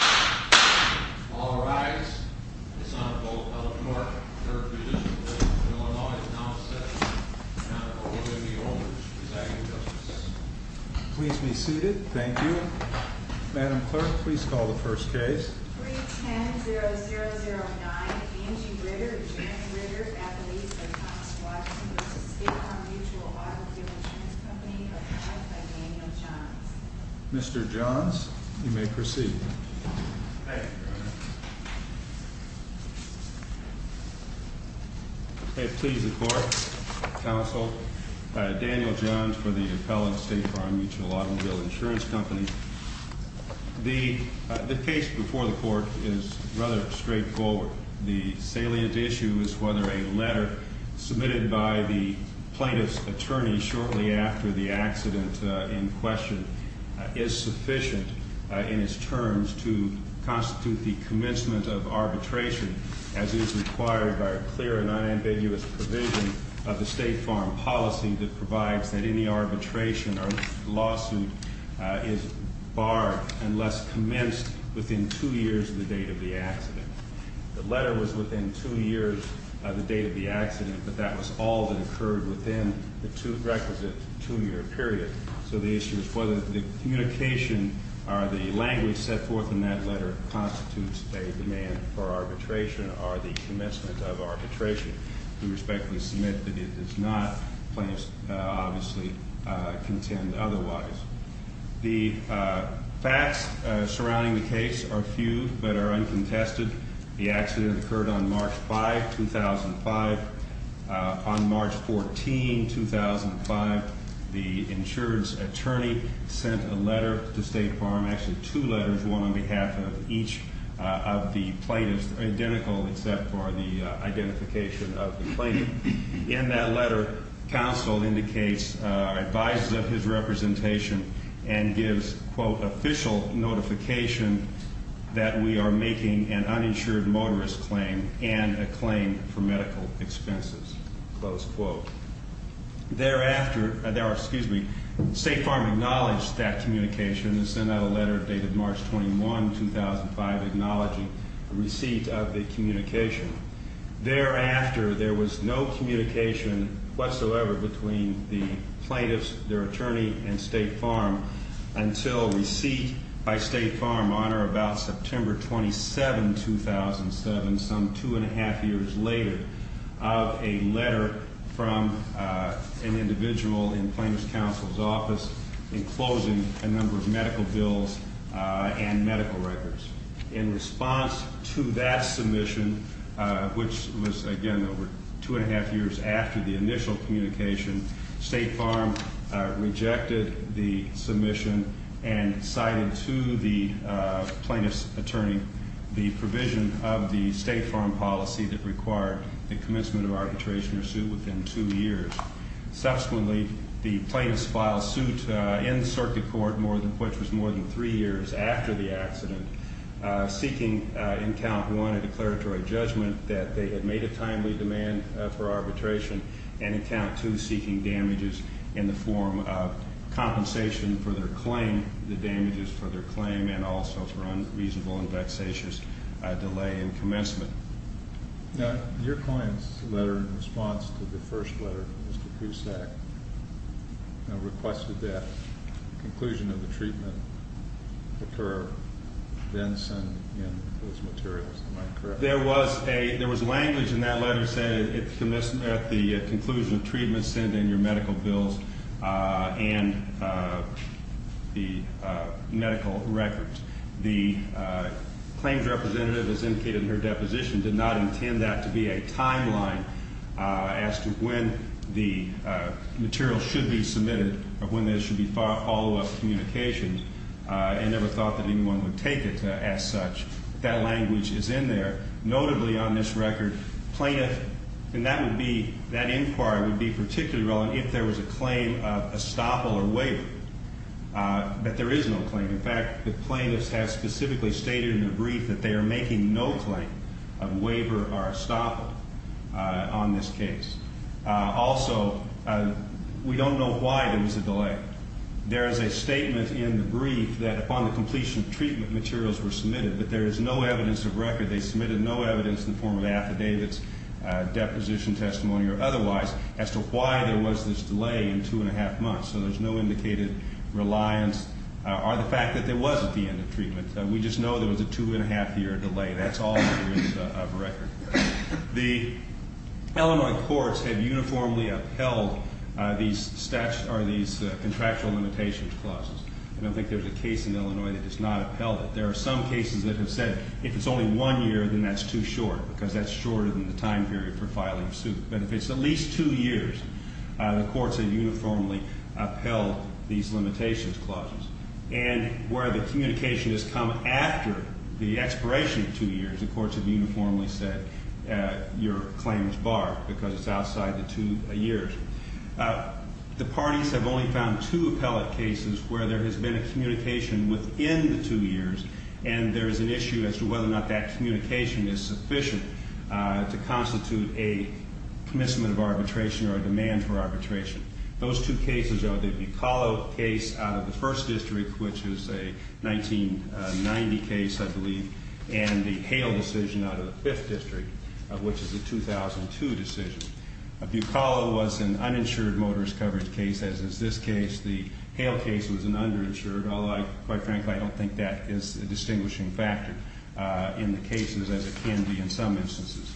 All rise. This Honorable Appellate Clerk, Third Magistrate of Illinois, is now in session. The Honorable William E. Oldridge, Presiding Justice. Please be seated. Thank you. Madam Clerk, please call the first case. 31009 Angie Ritter v. Janet Ritter v. Appellate v. Thomas Watson v. State Farm Mutual Auto Deal Insurance Company, Appellate by Daniel Johns. Mr. Johns, you may proceed. Thank you, Your Honor. May it please the Court, Counsel, Daniel Johns for the Appellate State Farm Mutual Auto Deal Insurance Company. The case before the Court is rather straightforward. The salient issue is whether a letter submitted by the plaintiff's attorney shortly after the accident in question is sufficient in its terms to constitute the commencement of arbitration, as is required by a clear and unambiguous provision of the State Farm policy that provides that any arbitration or lawsuit is barred unless commenced within two years of the date of the accident. The letter was within two years of the date of the accident, but that was all that occurred within the requisite two-year period. So the issue is whether the communication or the language set forth in that letter constitutes a demand for arbitration or the commencement of arbitration. We respectfully submit that it does not, plaintiffs obviously contend otherwise. The facts surrounding the case are few but are uncontested. The accident occurred on March 5, 2005. On March 14, 2005, the insurance attorney sent a letter to State Farm, actually two letters, one on behalf of each of the plaintiffs, identical except for the identification of the plaintiff. In that letter, counsel advises of his representation and gives, quote, official notification that we are making an uninsured motorist claim and a claim for medical expenses, close quote. Thereafter, State Farm acknowledged that communication and sent out a letter dated March 21, 2005, acknowledging receipt of the communication. Thereafter, there was no communication whatsoever between the plaintiffs, their attorney, and State Farm until receipt by State Farm on or about September 27, 2007, some two and a half years later, of a letter from an individual in plaintiff's counsel's office enclosing a number of medical bills and medical records. In response to that submission, which was, again, over two and a half years after the initial communication, State Farm rejected the submission and cited to the plaintiff's attorney the provision of the State Farm policy that required the commencement of arbitration or suit within two years. Subsequently, the plaintiffs filed suit in circuit court, which was more than three years after the accident, seeking in count one a declaratory judgment that they had made a timely demand for arbitration and in count two seeking damages in the form of compensation for their claim, the damages for their claim and also for unreasonable and vexatious delay in commencement. Now, your client's letter in response to the first letter from Mr. Cusack requested that conclusion of the treatment occur, then send in those materials. Am I correct? There was language in that letter saying at the conclusion of treatment, send in your medical bills and the medical records. The claims representative, as indicated in her deposition, did not intend that to be a timeline as to when the material should be submitted or when there should be follow-up communications. I never thought that anyone would take it as such. That language is in there. Notably on this record, plaintiff, and that inquiry would be particularly relevant if there was a claim of estoppel or waiver. But there is no claim. In fact, the plaintiffs have specifically stated in their brief that they are making no claim of waiver or estoppel on this case. Also, we don't know why there was a delay. There is a statement in the brief that upon the completion of treatment materials were submitted, but there is no evidence of record. They submitted no evidence in the form of affidavits, deposition testimony or otherwise as to why there was this delay in two and a half months. So there's no indicated reliance or the fact that there was at the end of treatment. We just know there was a two and a half year delay. That's all there is of record. The Illinois courts have uniformly upheld these contractual limitations clauses. I don't think there's a case in Illinois that has not upheld it. There are some cases that have said if it's only one year, then that's too short because that's shorter than the time period for filing a suit. But if it's at least two years, the courts have uniformly upheld these limitations clauses. And where the communication has come after the expiration of two years, the courts have uniformly said your claim is barred because it's outside the two years. The parties have only found two appellate cases where there has been a communication within the two years, and there is an issue as to whether or not that communication is sufficient to constitute a commencement of arbitration or a demand for arbitration. Those two cases are the Bucollo case out of the First District, which is a 1990 case, I believe, and the Hale decision out of the Fifth District, which is a 2002 decision. Bucollo was an uninsured motorist coverage case, as is this case. The Hale case was an underinsured. Although, quite frankly, I don't think that is a distinguishing factor in the cases as it can be in some instances.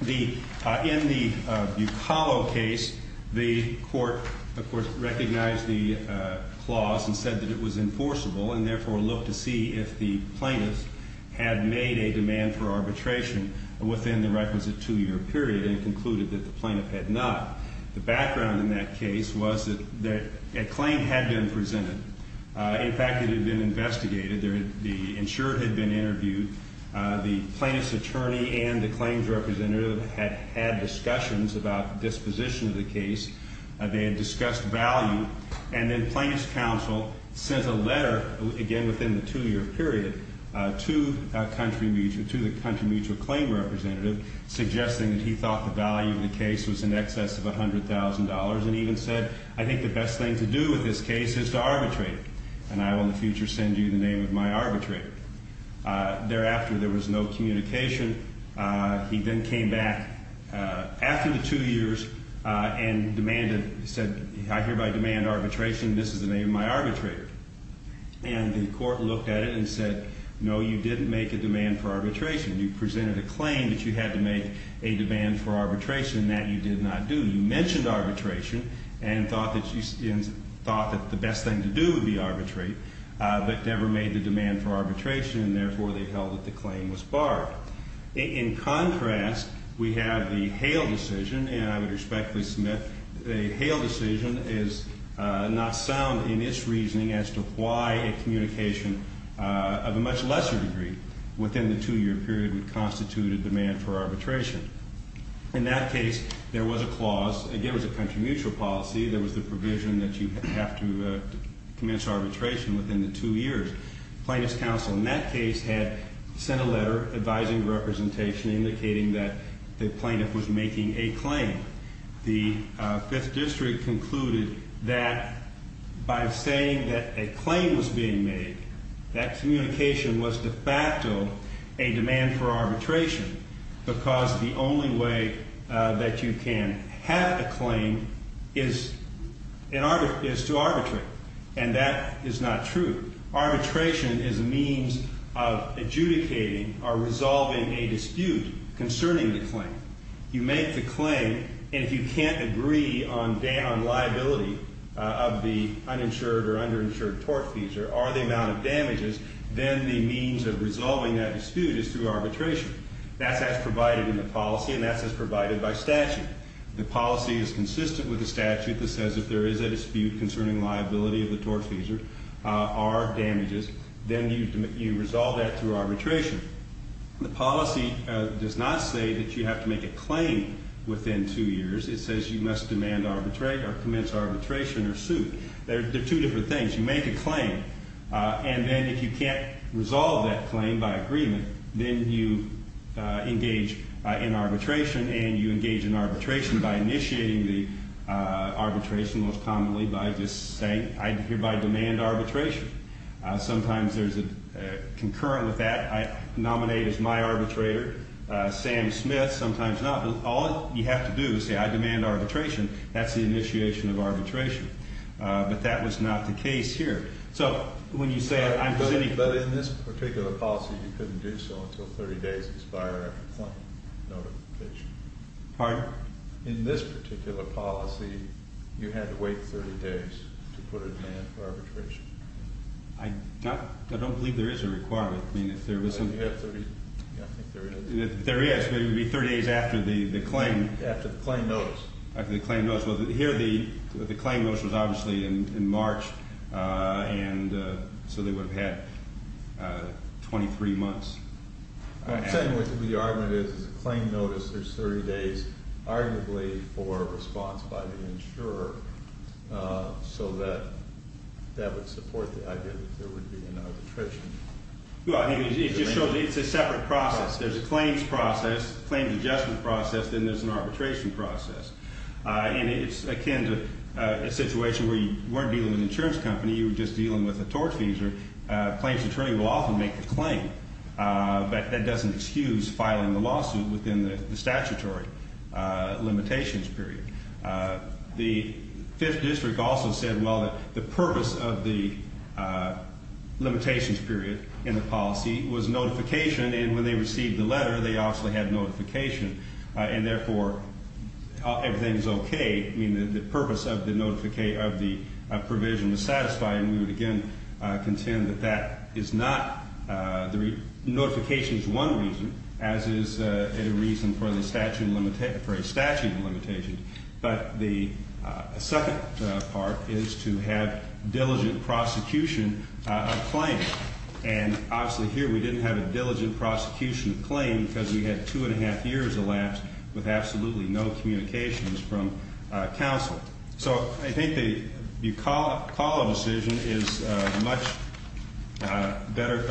In the Bucollo case, the court, of course, recognized the clause and said that it was enforceable, and therefore looked to see if the plaintiff had made a demand for arbitration within the requisite two-year period and concluded that the plaintiff had not. The background in that case was that a claim had been presented. In fact, it had been investigated. The insured had been interviewed. The plaintiff's attorney and the claims representative had had discussions about the disposition of the case. They had discussed value, and then plaintiff's counsel sent a letter, again within the two-year period, to the country mutual claim representative suggesting that he thought the value of the case was in excess of $100,000 and even said, I think the best thing to do with this case is to arbitrate, and I will in the future send you the name of my arbitrator. Thereafter, there was no communication. He then came back after the two years and demanded, said, I hereby demand arbitration. This is the name of my arbitrator. And the court looked at it and said, no, you didn't make a demand for arbitration. You presented a claim that you had to make a demand for arbitration, and that you did not do. You mentioned arbitration and thought that the best thing to do would be arbitrate, but never made the demand for arbitration, and therefore they held that the claim was barred. In contrast, we have the Hale decision, and I would respectfully submit that the Hale decision is not sound in its reasoning as to why a communication of a much lesser degree within the two-year period would constitute a demand for arbitration. In that case, there was a clause. Again, it was a country mutual policy. There was the provision that you have to commence arbitration within the two years. Plaintiff's counsel in that case had sent a letter advising representation, indicating that the plaintiff was making a claim. The Fifth District concluded that by saying that a claim was being made, that communication was de facto a demand for arbitration because the only way that you can have a claim is to arbitrate, and that is not true. Arbitration is a means of adjudicating or resolving a dispute concerning the claim. You make the claim, and if you can't agree on liability of the uninsured or underinsured tortfeasor or the amount of damages, then the means of resolving that dispute is through arbitration. That's as provided in the policy, and that's as provided by statute. The policy is consistent with the statute that says if there is a dispute concerning liability of the tortfeasor or damages, then you resolve that through arbitration. The policy does not say that you have to make a claim within two years. It says you must demand or commence arbitration or sue. They're two different things. You make a claim, and then if you can't resolve that claim by agreement, then you engage in arbitration, and you engage in arbitration by initiating the arbitration most commonly by just saying, I hereby demand arbitration. Sometimes there's a concurrent with that. I nominate as my arbitrator Sam Smith. Sometimes not, but all you have to do is say, I demand arbitration. That's the initiation of arbitration. But that was not the case here. So when you say I'm going to need- But in this particular policy, you couldn't do so until 30 days expired after claim notification. Pardon? In this particular policy, you had to wait 30 days to put a demand for arbitration. I don't believe there is a requirement. I mean, if there was some- I think you have 30- Yeah, I think there is. There is, but it would be 30 days after the claim. After the claim notice. After the claim notice. Well, here the claim notice was obviously in March, and so they would have had 23 months. I'm saying what the argument is, is a claim notice, there's 30 days, arguably, for a response by the insurer, so that that would support the idea that there would be an arbitration. Well, it's a separate process. There's a claims process, a claims adjustment process, then there's an arbitration process. And it's akin to a situation where you weren't dealing with an insurance company, you were just dealing with a torch user. A claims attorney will often make the claim, but that doesn't excuse filing the lawsuit within the statutory limitations period. The Fifth District also said, well, that the purpose of the limitations period in the policy was notification, and when they received the letter, they obviously had notification. And, therefore, everything is okay. I mean, the purpose of the provision is satisfying. We would, again, contend that that is not the reason. Notification is one reason, as is a reason for a statute of limitations. But the second part is to have diligent prosecution of claims. And, obviously, here we didn't have a diligent prosecution of claims because we had two and a half years elapsed with absolutely no communications from counsel. So I think the Bucolla decision is much better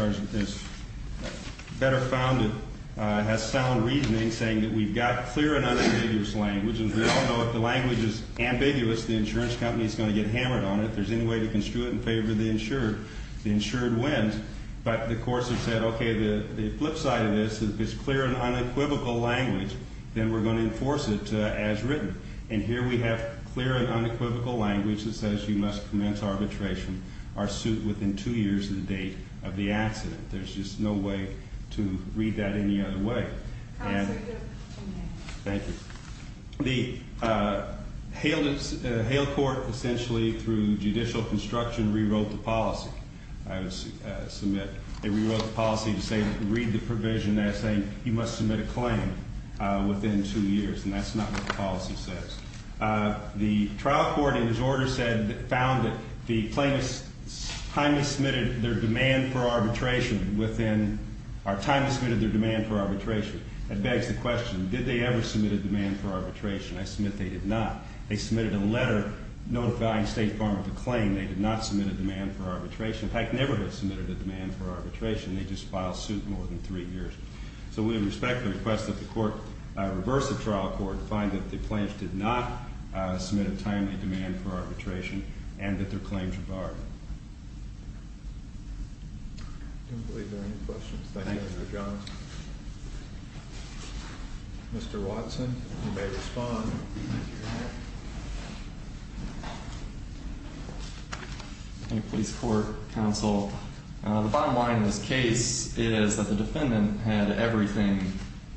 founded, has sound reasoning, saying that we've got clear and unambiguous language, and we don't know if the language is ambiguous, the insurance company is going to get hammered on it, if there's any way to construe it in favor of the insured, the insured wins. But the courts have said, okay, the flip side of this, if it's clear and unequivocal language, then we're going to enforce it as written. And here we have clear and unequivocal language that says you must commence arbitration or suit within two years of the date of the accident. There's just no way to read that any other way. Thank you. The Hale court, essentially, through judicial construction, rewrote the policy. They rewrote the policy to say read the provision there saying you must submit a claim within two years. And that's not what the policy says. The trial court, in its order said, found that the plaintiffs timely submitted their demand for arbitration within or timely submitted their demand for arbitration. That begs the question, did they ever submit a demand for arbitration? I submit they did not. They submitted a letter notifying the State Department of the claim they did not submit a demand for arbitration. In fact, never have submitted a demand for arbitration. They just filed suit more than three years. So we respect the request that the court reverse the trial court to find that the plaintiffs did not submit a timely demand for arbitration and that their claims were barred. I don't believe there are any questions. Thank you, Mr. Johnson. Mr. Watson, you may respond. Thank you, Your Honor. Police court, counsel. The bottom line in this case is that the defendant had everything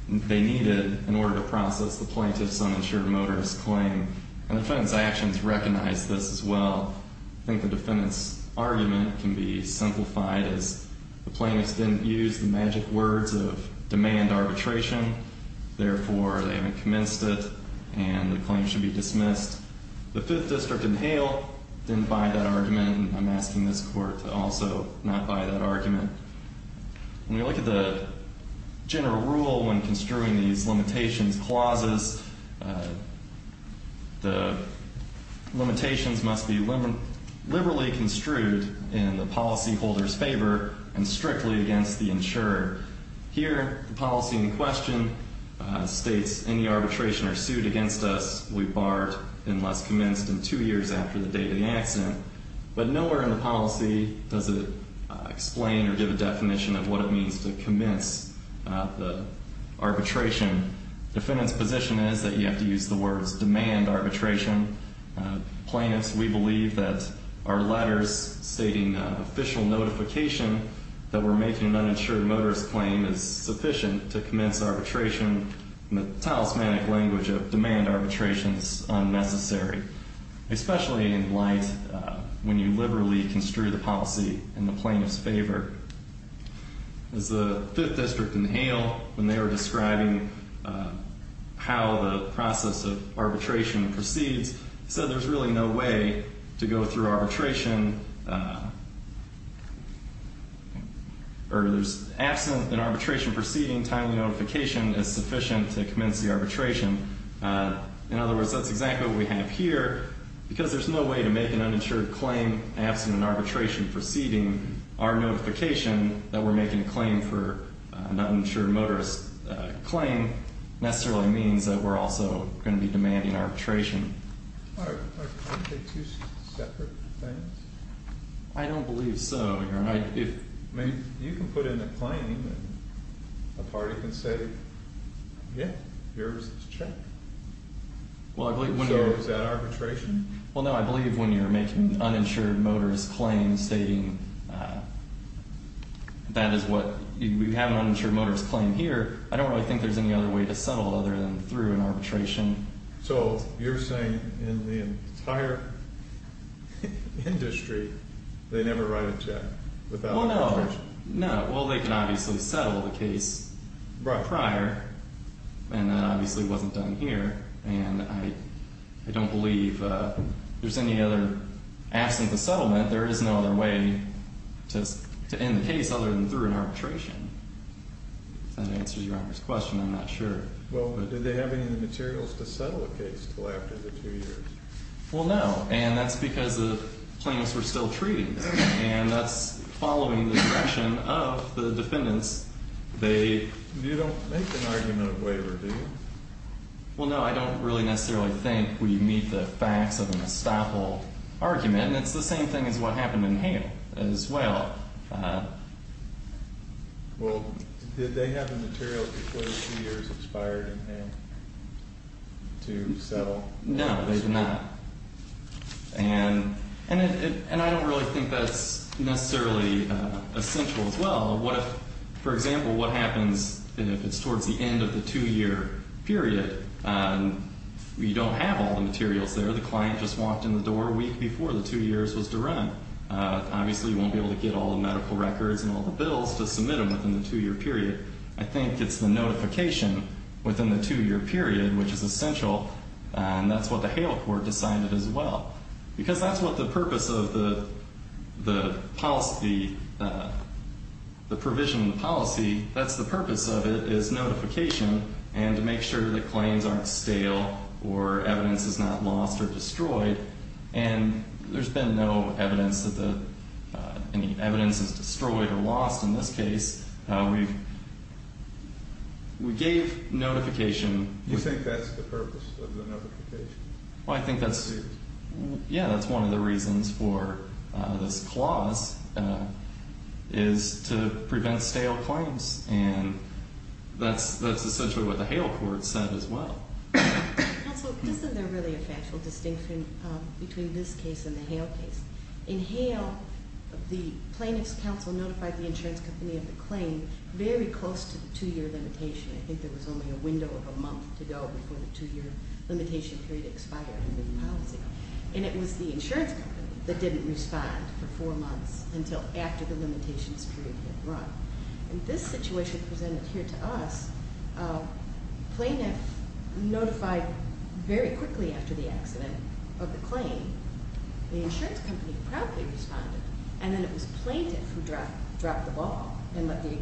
they needed in order to process the plaintiff's uninsured motorist claim. And the defendant's actions recognize this as well. I think the defendant's argument can be simplified as the plaintiffs didn't use the magic words of demand arbitration. Therefore, they haven't commenced it, and the claim should be dismissed. The Fifth District in Hale didn't buy that argument, and I'm asking this court to also not buy that argument. When we look at the general rule when construing these limitations clauses, the limitations must be liberally construed in the policyholder's favor and strictly against the insurer. Here, the policy in question states any arbitration or suit against us we barred unless commenced in two years after the date of the accident. But nowhere in the policy does it explain or give a definition of what it means to commence the arbitration. The defendant's position is that you have to use the words demand arbitration. Plaintiffs, we believe that our letters stating official notification that we're making an uninsured motorist claim is sufficient to commence arbitration. In the talismanic language of demand arbitration, it's unnecessary, especially in light when you liberally construe the policy in the plaintiff's favor. As the Fifth District in Hale, when they were describing how the process of arbitration proceeds, said there's really no way to go through arbitration, or there's absent an arbitration proceeding, timely notification is sufficient to commence the arbitration. In other words, that's exactly what we have here. Because there's no way to make an uninsured claim absent an arbitration proceeding, our notification that we're making a claim for an uninsured motorist claim necessarily means that we're also going to be demanding arbitration. Are they two separate things? I don't believe so, Your Honor. I mean, you can put in a claim and a party can say, yeah, here's this check. So is that arbitration? Well, no, I believe when you're making an uninsured motorist claim stating that is what you have an uninsured motorist claim here, I don't really think there's any other way to settle other than through an arbitration. So you're saying in the entire industry they never write a check without arbitration? No. Well, they can obviously settle the case prior, and that obviously wasn't done here. And I don't believe there's any other – absent the settlement, there is no other way to end the case other than through an arbitration. If that answers Your Honor's question, I'm not sure. Well, did they have any materials to settle the case until after the two years? Well, no, and that's because the claimants were still treated, and that's following the discretion of the defendants. They – You don't make an argument of waiver, do you? Well, no, I don't really necessarily think we meet the facts of an estoppel argument, and it's the same thing as what happened in Hale as well. Well, did they have the materials before the two years expired in Hale to settle? No, they did not. And I don't really think that's necessarily essential as well. For example, what happens if it's towards the end of the two-year period? You don't have all the materials there. The client just walked in the door a week before the two years was to run. Obviously, you won't be able to get all the medical records and all the bills to submit them within the two-year period. I think it's the notification within the two-year period which is essential, and that's what the Hale court decided as well, because that's what the purpose of the policy – the provision of the policy, that's the purpose of it, is notification and to make sure that claims aren't stale or evidence is not lost or destroyed. And there's been no evidence that any evidence is destroyed or lost in this case. We gave notification. You think that's the purpose of the notification? Well, I think that's – yeah, that's one of the reasons for this clause is to prevent stale claims, and that's essentially what the Hale court said as well. Counsel, isn't there really a factual distinction between this case and the Hale case? In Hale, the plaintiff's counsel notified the insurance company of the claim very close to the two-year limitation. I think there was only a window of a month to go before the two-year limitation period expired in the policy. And it was the insurance company that didn't respond for four months until after the limitations period had run. In this situation presented here to us, plaintiff notified very quickly after the accident of the claim. The insurance company proudly responded, and then it was plaintiff who dropped the ball and let the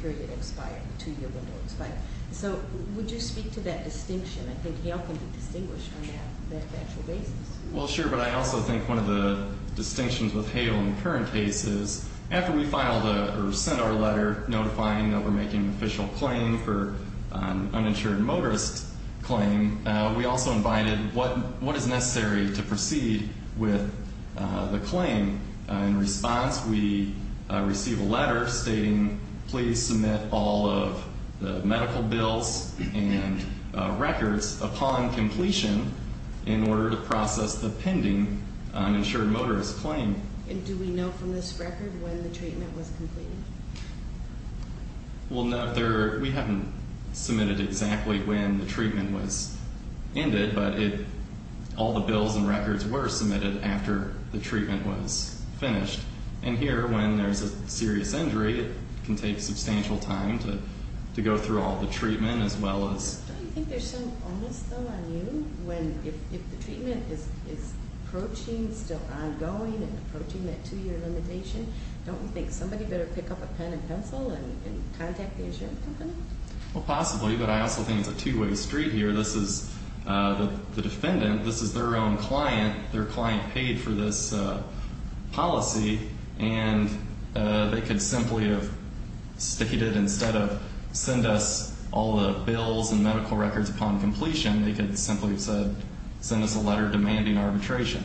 period expire, the two-year window expire. So would you speak to that distinction? I think Hale can be distinguished on that factual basis. Well, sure, but I also think one of the distinctions with Hale in current cases, after we filed or sent our letter notifying that we're making an official claim for an uninsured motorist claim, we also invited what is necessary to proceed with the claim. In response, we receive a letter stating, please submit all of the medical bills and records upon completion in order to process the pending uninsured motorist claim. And do we know from this record when the treatment was completed? Well, no. We haven't submitted exactly when the treatment was ended, but all the bills and records were submitted after the treatment was finished. And here, when there's a serious injury, it can take substantial time to go through all the treatment as well as... Don't you think there's some onus, though, on you when if the treatment is approaching, still ongoing and approaching that two-year limitation, don't you think somebody better pick up a pen and pencil and contact the insurance company? Well, possibly, but I also think it's a two-way street here. This is the defendant. This is their own client. Their client paid for this policy, and they could simply have stated instead of send us all the bills and medical records upon completion, they could simply have said send us a letter demanding arbitration.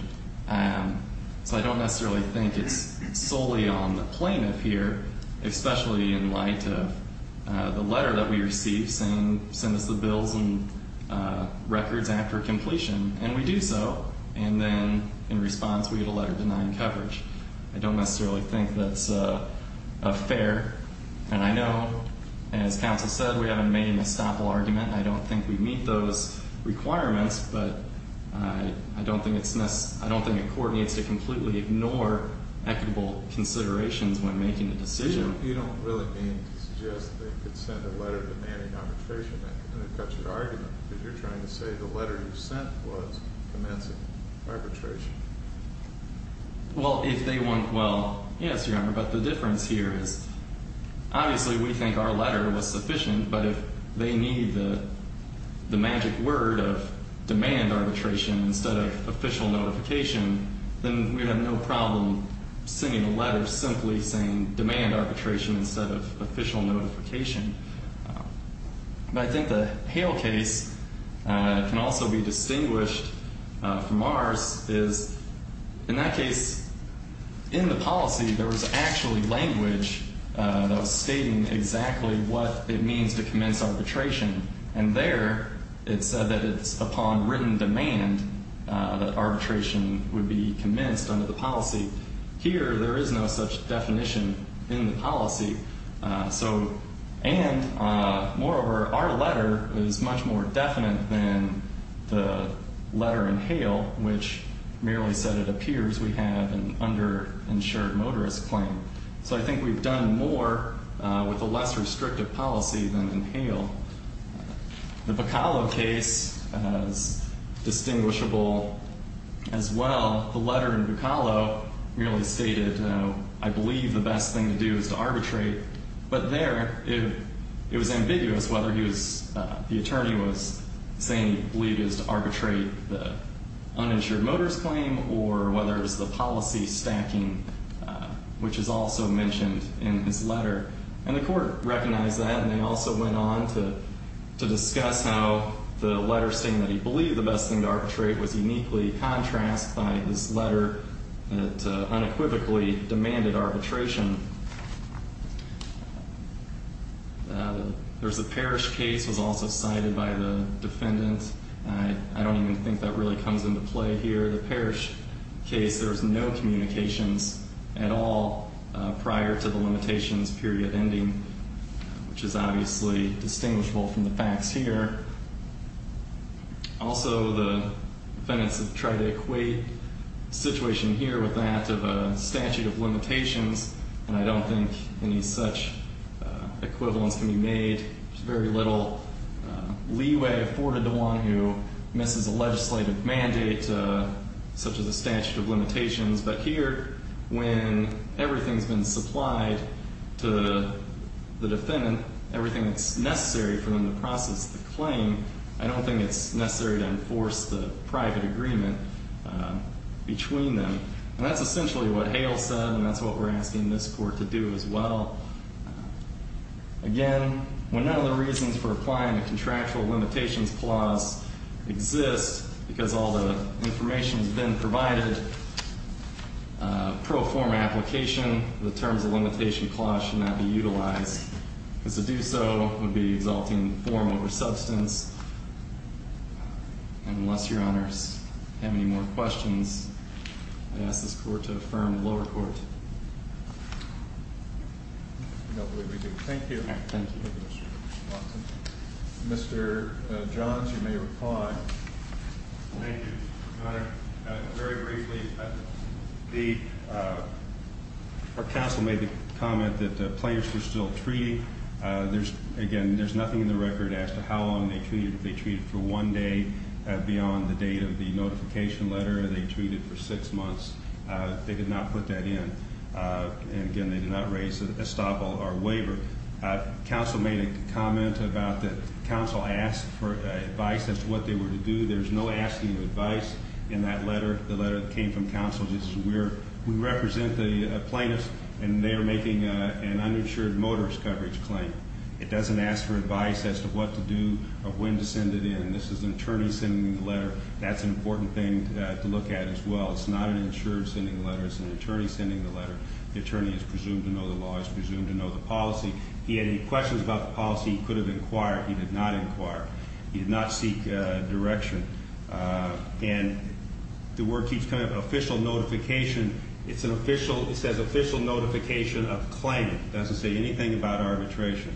So I don't necessarily think it's solely on the plaintiff here, especially in light of the letter that we received saying send us the bills and records after completion, and we do so. And then in response, we get a letter denying coverage. I don't necessarily think that's fair. And I know, as counsel said, we haven't made a misstable argument. I don't think we meet those requirements, but I don't think it coordinates to completely ignore equitable considerations when making a decision. You don't really mean to suggest that they could send a letter demanding arbitration. And it cuts your argument because you're trying to say the letter you sent was demanding arbitration. Well, if they want, well, yes, Your Honor, but the difference here is obviously we think our letter was sufficient, but if they need the magic word of demand arbitration instead of official notification, then we have no problem sending a letter simply saying demand arbitration instead of official notification. But I think the Hale case can also be distinguished from ours is, in that case, in the policy there was actually language stating exactly what it means to commence arbitration. And there it said that it's upon written demand that arbitration would be commenced under the policy. Here there is no such definition in the policy. And moreover, our letter is much more definite than the letter in Hale, which merely said it appears we have an underinsured motorist claim. So I think we've done more with a less restrictive policy than in Hale. The Bacallo case is distinguishable as well. The letter in Bacallo merely stated I believe the best thing to do is to arbitrate, but there it was ambiguous whether the attorney was saying he believed it was to arbitrate the uninsured motorist claim or whether it was the policy stacking, which is also mentioned in his letter. And the court recognized that, and they also went on to discuss how the letter saying that he believed the best thing to arbitrate was uniquely contrasted by this letter that unequivocally demanded arbitration. There's a Parrish case was also cited by the defendant. I don't even think that really comes into play here. The Parrish case, there was no communications at all prior to the limitations period ending, which is obviously distinguishable from the facts here. Also, the defendants have tried to equate the situation here with that of a statute of limitations, and I don't think any such equivalence can be made. There's very little leeway afforded to one who misses a legislative mandate such as a statute of limitations. But here, when everything's been supplied to the defendant, everything that's necessary for them to process the claim, I don't think it's necessary to enforce the private agreement between them. And that's essentially what Hale said, and that's what we're asking this court to do as well. Again, when none of the reasons for applying the contractual limitations clause exist, because all the information has been provided pro forma application, the terms of limitation clause should not be utilized. Because to do so would be exalting form over substance. And unless your honors have any more questions, I ask this court to affirm the lower court. Thank you. Thank you. Thank you, your honor. Very briefly, the counsel made the comment that the plaintiffs were still treating. Again, there's nothing in the record as to how long they treated. They treated for one day beyond the date of the notification letter. They treated for six months. They did not put that in. And again, they did not raise a stop or a waiver. Counsel made a comment about that counsel asked for advice as to what they were to do. There's no asking advice in that letter. The letter came from counsel. This is where we represent the plaintiffs, and they are making an uninsured motorist coverage claim. It doesn't ask for advice as to what to do or when to send it in. This is an attorney sending the letter. That's an important thing to look at as well. It's not an insured sending the letter. It's an attorney sending the letter. The attorney is presumed to know the law. He's presumed to know the policy. If he had any questions about the policy, he could have inquired. He did not inquire. He did not seek direction. And the word keeps coming up, an official notification. It's an official. It says official notification of claim. It doesn't say anything about arbitration.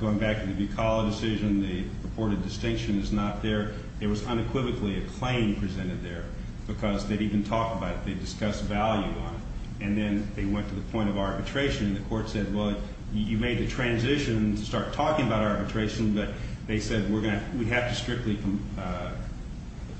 Going back to the Bucala decision, the purported distinction is not there. There was unequivocally a claim presented there because they didn't even talk about it. They discussed value on it. And then they went to the point of arbitration, and the court said, well, you made the transition to start talking about arbitration, but they said we have to strictly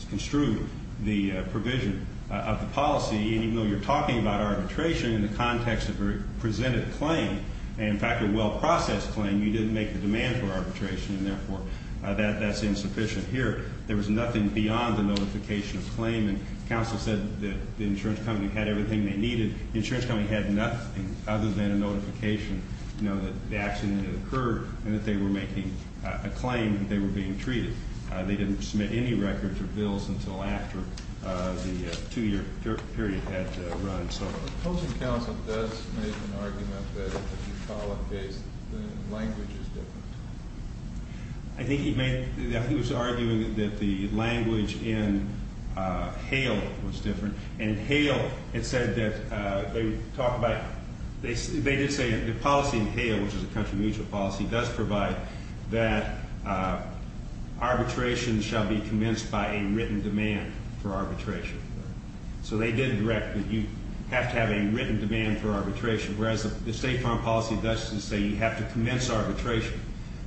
construe the provision of the policy. And even though you're talking about arbitration in the context of a presented claim, and, in fact, a well-processed claim, you didn't make the demand for arbitration, and, therefore, that's insufficient here. There was nothing beyond the notification of claim. And counsel said that the insurance company had everything they needed. The insurance company had nothing other than a notification, you know, that the accident had occurred and that they were making a claim that they were being treated. They didn't submit any records or bills until after the two-year period had run. So the opposing counsel does make an argument that the Bucala case, the language is different. I think he was arguing that the language in Hale was different. In Hale, it said that they would talk about the policy in Hale, which is a country mutual policy, does provide that arbitration shall be commenced by a written demand for arbitration. So they did direct that you have to have a written demand for arbitration, whereas the state farm policy does say you have to commence arbitration,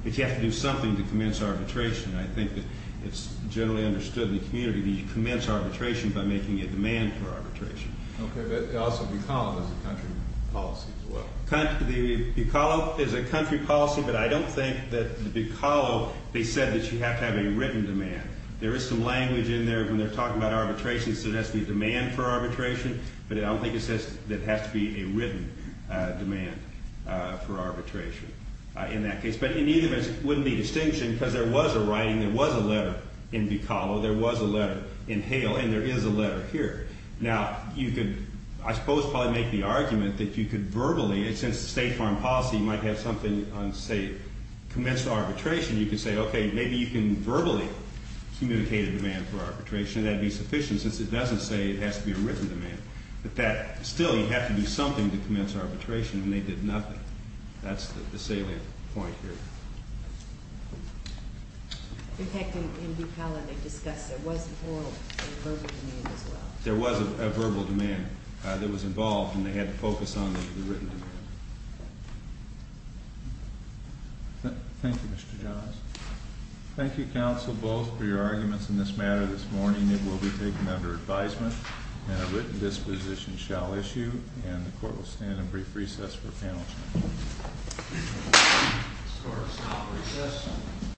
that you have to do something to commence arbitration. I think that it's generally understood in the community that you commence arbitration by making a demand for arbitration. Okay, but also Bucala is a country policy as well. The Bucala is a country policy, but I don't think that the Bucala, they said that you have to have a written demand. There is some language in there when they're talking about arbitration suggesting a demand for arbitration, but I don't think it says that it has to be a written demand for arbitration in that case. But in either case, it wouldn't be a distinction because there was a writing. There was a letter in Bucala. There was a letter in Hale, and there is a letter here. Now, you could, I suppose, probably make the argument that you could verbally, since the state farm policy might have something on, say, commenced arbitration, you could say, okay, maybe you can verbally communicate a demand for arbitration. That would be sufficient since it doesn't say it has to be a written demand. But that still, you have to do something to commence arbitration, and they did nothing. That's the salient point here. In fact, in Bucala, they discussed there was a verbal demand as well. There was a verbal demand that was involved, and they had to focus on the written demand. Thank you, Mr. Johns. Thank you, counsel, both, for your arguments in this matter this morning. It will be taken under advisement, and a written disposition shall issue, and the court will stand in brief recess for panel discussion. This court is now at recess.